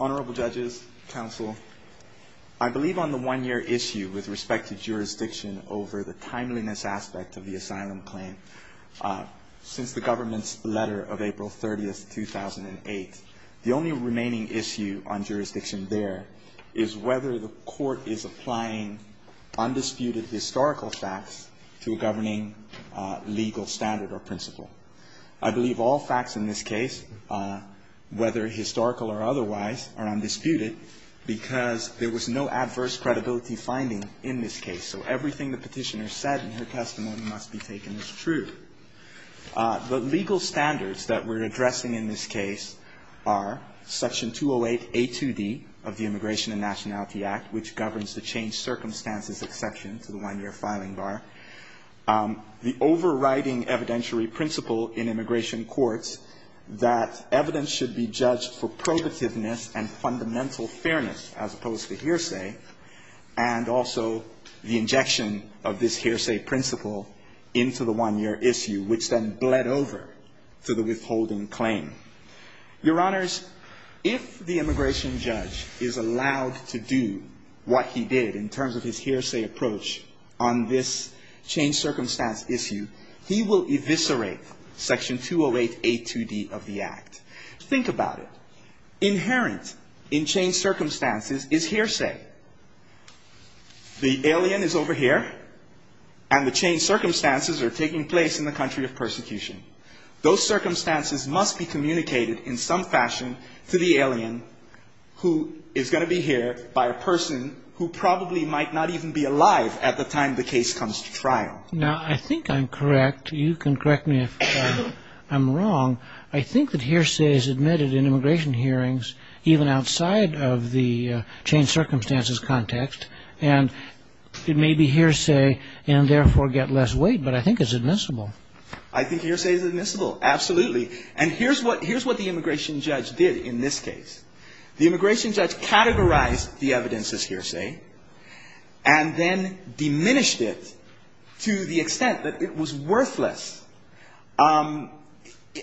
Honourable judges, counsel, I believe on the one-year issue with respect to jurisdiction over the timeliness aspect of the asylum claim, since the government's letter of April 30, 2008, the only remaining issue on jurisdiction there is whether the court is applying undisputed historical facts to a governing legal standard or principle. I believe all facts in this case, whether historical or otherwise, are undisputed because there was no adverse credibility finding in this case. So everything the petitioner said in her testimony must be taken as true. The legal standards that we're addressing in this case are Section 208A2D of the Immigration and Nationality Act, which governs the changed circumstances exception to the one-year filing bar. The overriding evidentiary principle in immigration courts that evidence should be judged for probativeness and fundamental fairness as opposed to hearsay, and also the injection of this hearsay principle into the one-year issue, which then bled over to the withholding claim. Your Honours, if the immigration judge is allowed to do what he did in terms of his hearsay approach on this changed circumstance issue, he will eviscerate Section 208A2D of the Act. Think about it. Inherent in changed circumstances is hearsay. The alien is over here, and the changed circumstances are taking place in the country of persecution. Those circumstances must be communicated in some fashion to the alien who is going to be here by a person who probably might not even be alive at the time the case comes to trial. Now, I think I'm correct. You can correct me if I'm wrong. I think that hearsay is admitted in immigration hearings even outside of the changed circumstances context, and it may be hearsay and therefore get less weight, but I think it's admissible. I think hearsay is admissible. Absolutely. And here's what the immigration judge did in this case. The immigration judge categorized the evidence as hearsay and then diminished it to the extent that it was worthless.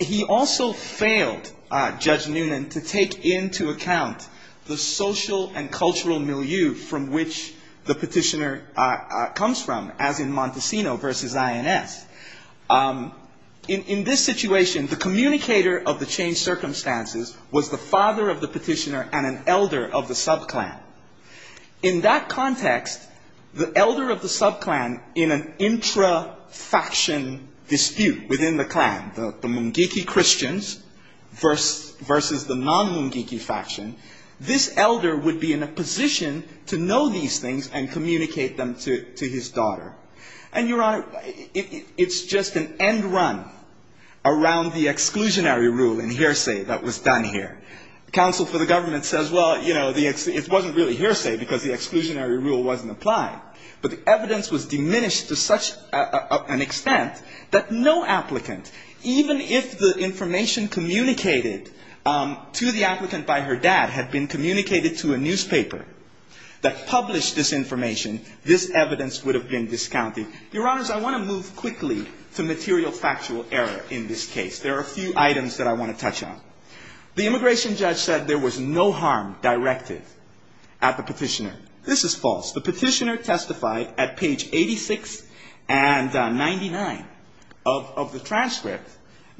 He also failed, Judge Noonan, to take into account the social and cultural milieu from which the petitioner comes from, as in Montesino v. INS. In this situation, the communicator of the changed circumstances was the father of the petitioner and an elder of the subclan. In that context, the elder of the subclan in an intra-faction dispute within the clan, the Mungiki Christians versus the non-Mungiki faction, this elder would be in a position to know these things and communicate them to his daughter. And, Your Honor, it's just an end run around the exclusionary rule in hearsay that was done here. Counsel for the government says, well, you know, it wasn't really hearsay because the exclusionary rule wasn't applied. But the evidence was diminished to such an extent that no applicant, even if the information communicated to the applicant by her dad had been communicated to a newspaper that published this information, this evidence would have been discounted. Your Honors, I want to move quickly to material factual error in this case. There are a few items that I want to touch on. The immigration judge said there was no harm directed at the petitioner. This is false. The petitioner testified at page 86 and 99 of the transcript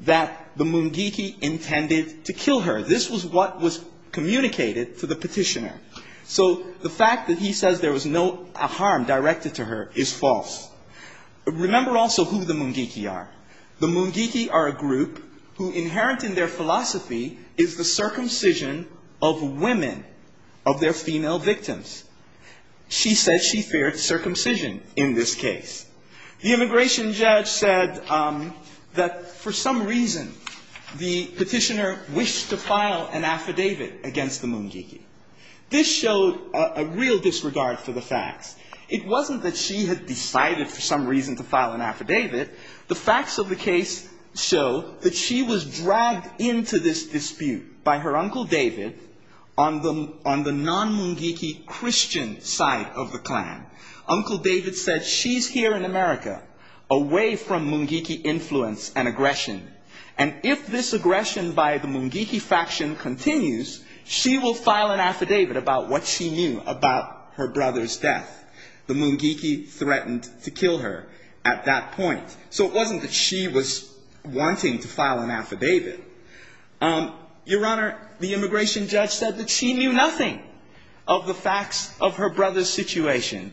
that the Mungiki intended to kill her. This was what was communicated to the petitioner. So the fact that he says there was no harm directed to her is false. Remember also who the Mungiki are. The Mungiki are a group who inherent in their philosophy is the circumcision of women, of their female victims. She said she feared circumcision in this case. The immigration judge said that for some reason the petitioner wished to file an affidavit against the Mungiki. This showed a real disregard for the facts. It wasn't that she had decided for some reason to file an affidavit. The facts of the case show that she was dragged into this dispute by her Uncle David on the non-Mungiki Christian side of the clan. Uncle David said she's here in America, away from Mungiki influence and aggression. And if this aggression by the Mungiki faction continues, she will file an affidavit about what she knew about her brother's death. The Mungiki threatened to kill her at that point. So it wasn't that she was wanting to file an affidavit. Your Honor, the immigration judge said that she knew nothing of the facts of her brother's situation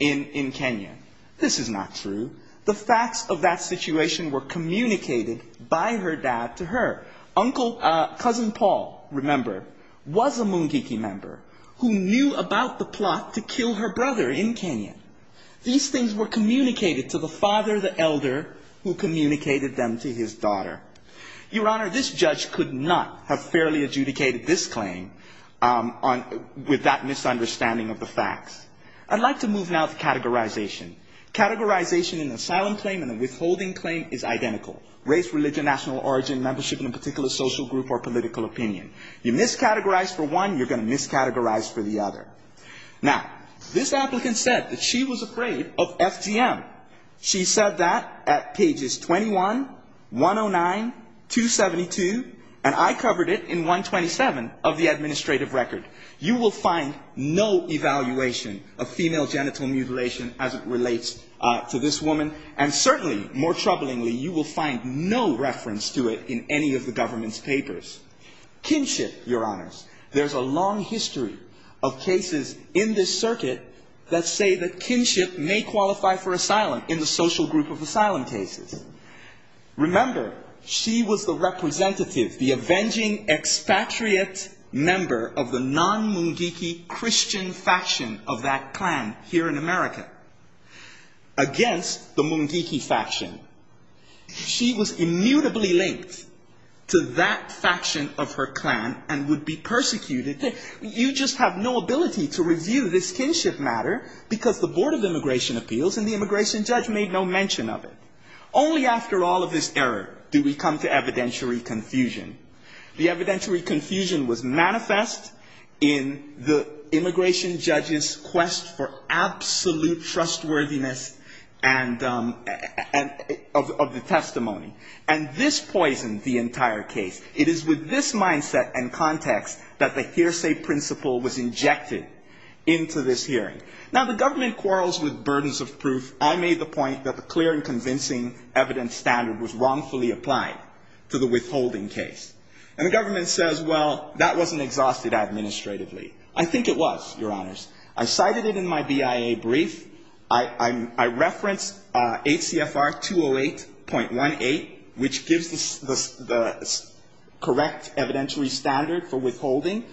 in Kenya. This is not true. The facts of that situation were communicated by her dad to her. Cousin Paul, remember, was a Mungiki member who knew about the plot to kill her brother in Kenya. These things were communicated to the father, the elder, who communicated them to his daughter. Your Honor, this judge could not have fairly adjudicated this claim with that misunderstanding of the facts. I'd like to move now to categorization. Categorization in an asylum claim and a withholding claim is identical. Race, religion, national origin, membership in a particular social group or political opinion. You miscategorize for one, you're going to miscategorize for the other. Now, this applicant said that she was afraid of FGM. She said that at pages 21, 109, 272, and I covered it in 127 of the administrative record. You will find no evaluation of female genital mutilation as it relates to this woman. And certainly, more troublingly, you will find no reference to it in any of the government's papers. Kinship, Your Honors. There's a long history of cases in this circuit that say that kinship may qualify for asylum in the social group of asylum cases. Remember, she was the representative, the avenging expatriate member of the non-conforming group. The non-Mungiki Christian faction of that clan here in America against the Mungiki faction. She was immutably linked to that faction of her clan and would be persecuted. You just have no ability to review this kinship matter because the Board of Immigration Appeals and the immigration judge made no mention of it. Only after all of this error do we come to evidentiary confusion. The evidentiary confusion was manifest in the immigration judge's quest for absolute trustworthiness and of the testimony. And this poisoned the entire case. It is with this mindset and context that the hearsay principle was injected into this hearing. Now, the government quarrels with burdens of proof. I made the point that the clear and convincing evidence standard was wrongfully applied to the withholding case. And the government says, well, that wasn't exhausted administratively. I think it was, Your Honors. I cited it in my BIA brief. I referenced 8 CFR 208.18, which gives the correct evidentiary standard for withholding.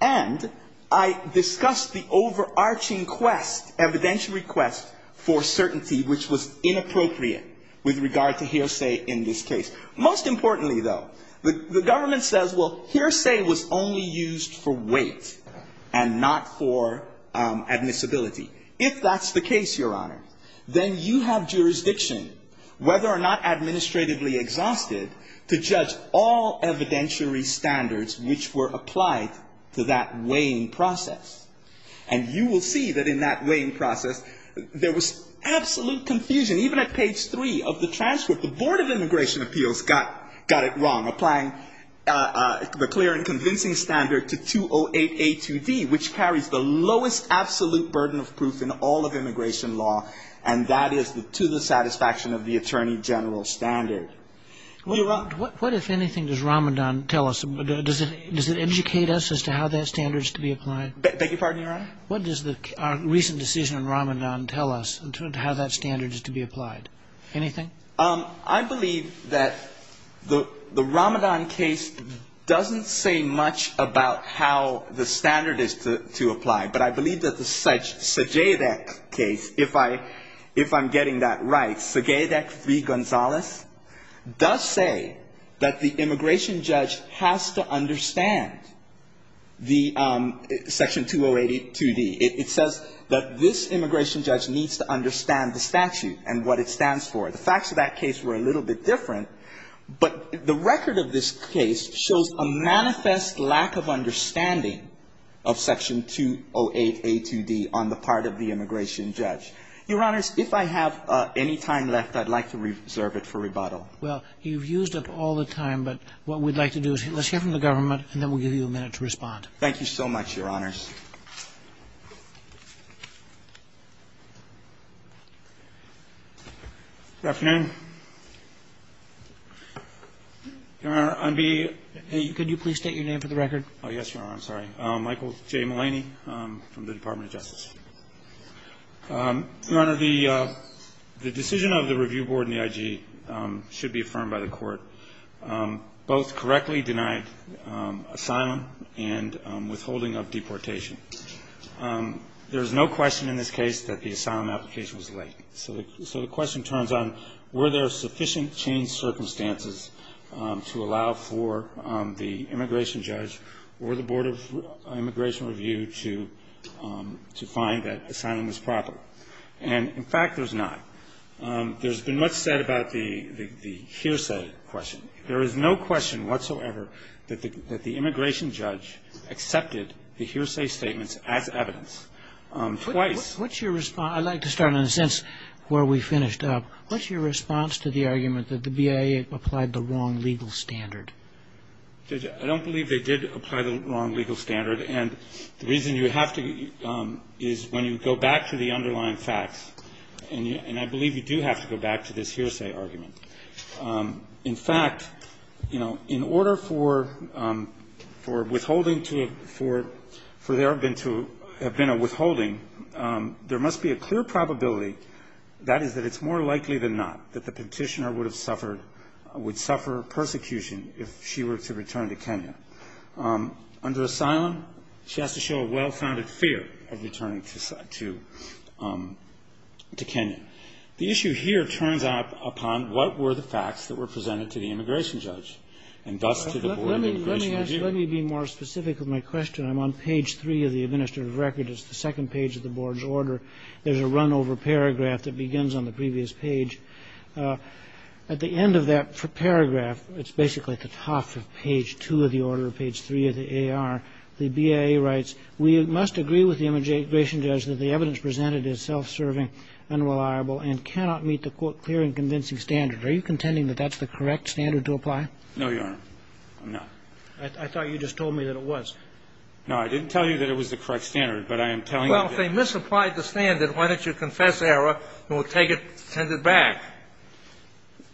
And I discussed the overarching quest, evidentiary quest for certainty, which was inappropriate with regard to hearsay in this case. Most importantly, though, the government says, well, hearsay was only used for weight and not for admissibility. If that's the case, Your Honor, then you have jurisdiction, whether or not administratively exhausted, to judge all evidentiary standards which were applied to that weighing process. And you will see that in that weighing process, there was absolute confusion. Even at page 3 of the transcript, the Board of Immigration Appeals got it wrong, applying the clear and convincing standard to 208A2D, which carries the lowest absolute burden of proof in all of immigration law, and that is to the satisfaction of the Attorney General's standard. What, if anything, does Ramadan tell us? Does it educate us as to how that standard is to be applied? What does our recent decision on Ramadan tell us in terms of how that standard is to be applied? Anything? I believe that the Ramadan case doesn't say much about how the standard is to apply, but I believe that the Sajedek case, if I'm getting that right, Sajedek v. Gonzales, does say that the immigration judge has to understand the section 208A2D. It says that this immigration judge needs to understand the statute and what it stands for. The facts of that case were a little bit different, but the record of this case shows a manifest lack of understanding of Section 208A2D on the part of the immigration judge. Your Honors, if I have any time left, I'd like to reserve it for rebuttal. Well, you've used up all the time, but what we'd like to do is let's hear from the government, and then we'll give you a minute to respond. Thank you so much, Your Honors. Good afternoon. Your Honor, I'm being... Could you please state your name for the record? Oh, yes, Your Honor. I'm sorry. Michael J. Mulaney from the Department of Justice. Your Honor, the decision of the Review Board and the IG should be affirmed by the Court. There is no question in this case that the asylum application was late. So the question turns on were there sufficient changed circumstances to allow for the immigration judge or the Board of Immigration Review to find that asylum was proper. And in fact, there's not. There's been much said about the hearsay question. There is no question whatsoever that the immigration judge accepted the hearsay statements as evidence. Twice. I'd like to start on the sense where we finished up. What's your response to the argument that the BIA applied the wrong legal standard? I don't believe they did apply the wrong legal standard, and the reason you have to is when you go back to the underlying facts, and I believe you do have to go back to this hearsay argument. In fact, you know, in order for withholding, for there to have been a withholding, there must be a clear probability that it's more likely than not that the petitioner would suffer persecution if she were to return to Kenya. Under asylum, she has to show a well-founded fear of returning to Kenya. The issue here turns out upon what were the facts that were presented to the immigration judge, and thus to the Board of Immigration Review. Let me be more specific with my question. I'm on page 3 of the administrative record. It's the second page of the Board's order. There's a run-over paragraph that begins on the previous page. At the end of that paragraph, it's basically at the top of page 2 of the order, page 3 of the AR, the BIA writes, No, Your Honor. I'm not. I thought you just told me that it was. No, I didn't tell you that it was the correct standard, but I am telling you that Well, if they misapplied the standard, why don't you confess error and we'll take it and send it back?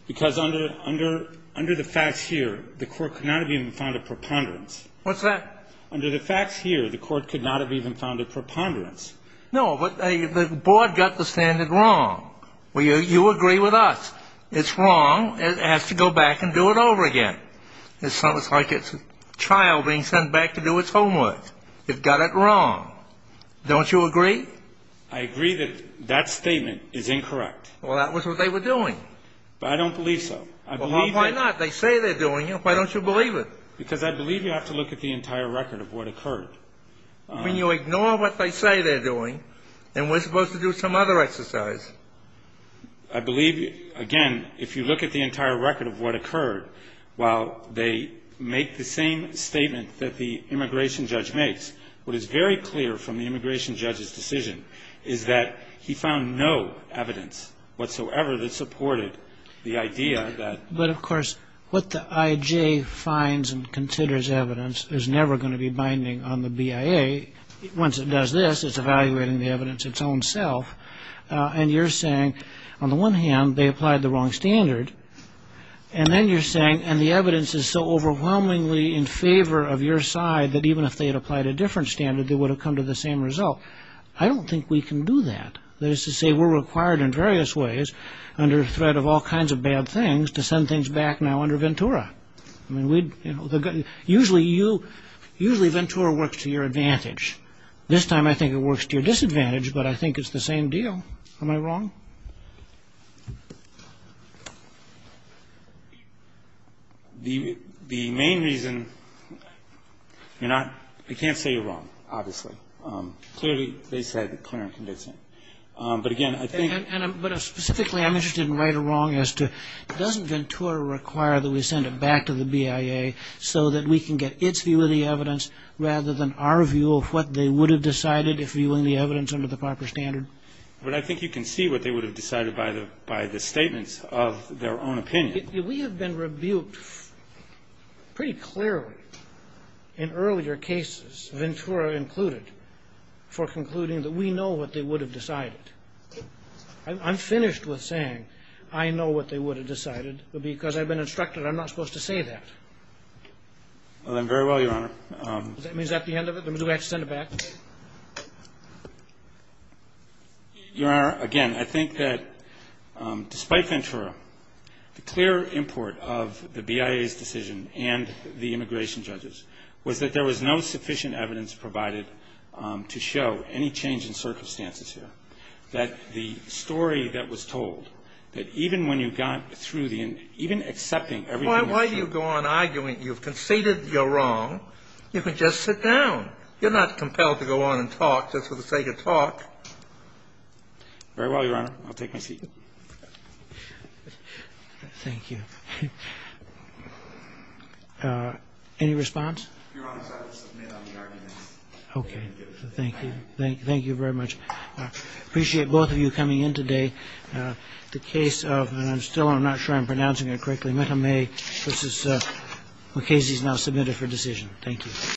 Because under the facts here, the court could not have even found a preponderance. What's that? Under the facts here, the court could not have even found a preponderance. No, but the Board got the standard wrong. You agree with us. It's wrong. It has to go back and do it over again. It's like a child being sent back to do its homework. It got it wrong. Don't you agree? I agree that that statement is incorrect. Well, that was what they were doing. But I don't believe so. Well, why not? They say they're doing it. Why don't you believe it? Because I believe you have to look at the entire record of what occurred. When you ignore what they say they're doing, then we're supposed to do some other exercise. I believe, again, if you look at the entire record of what occurred, while they make the same statement that the immigration judge makes, what is very clear from the immigration judge's decision is that he found no evidence whatsoever that supported the idea that... But, of course, what the I.J. finds and considers evidence is never going to be binding on the BIA. Once it does this, it's evaluating the evidence its own self. And you're saying, on the one hand, they applied the wrong standard. And then you're saying, and the evidence is so overwhelmingly in favor of your side that even if they had applied a different standard, they would have come to the same result. I don't think we can do that. That is to say, we're required in various ways, under threat of all kinds of bad things, to send things back now under Ventura. Usually Ventura works to your advantage. This time I think it works to your disadvantage, but I think it's the same deal. Am I wrong? The main reason, you're not... I can't say you're wrong, obviously. Clearly, they said clear and convincing. But, again, I think... But, specifically, I'm interested in right or wrong as to, doesn't Ventura require that we send it back to the BIA so that we can get its view of the evidence rather than our view of what they would have decided if viewing the evidence under the proper standard? But I think you can see what they would have decided by the statements of their own opinion. We have been rebuked pretty clearly in earlier cases, Ventura included, for concluding that we know what they would have decided. I'm finished with saying I know what they would have decided because I've been instructed I'm not supposed to say that. Well, then, very well, Your Honor. Does that mean that's the end of it? Do we have to send it back? Your Honor, again, I think that despite Ventura, the clear import of the BIA's decision and the immigration judge's was that there was no sufficient evidence provided to show any change in circumstances here, that the story that was told, that even when you got through the end, even accepting everything. Why do you go on arguing? You've conceded you're wrong. You can just sit down. You're not compelled to go on and talk just for the sake of talk. Very well, Your Honor. I'll take my seat. Thank you. Any response? Your Honor, I will submit on the arguments. Okay. Thank you. Thank you very much. I appreciate both of you coming in today. The case of, and I'm still I'm not sure I'm pronouncing it correctly, Metta May v. McKasey is now submitted for decision. Thank you.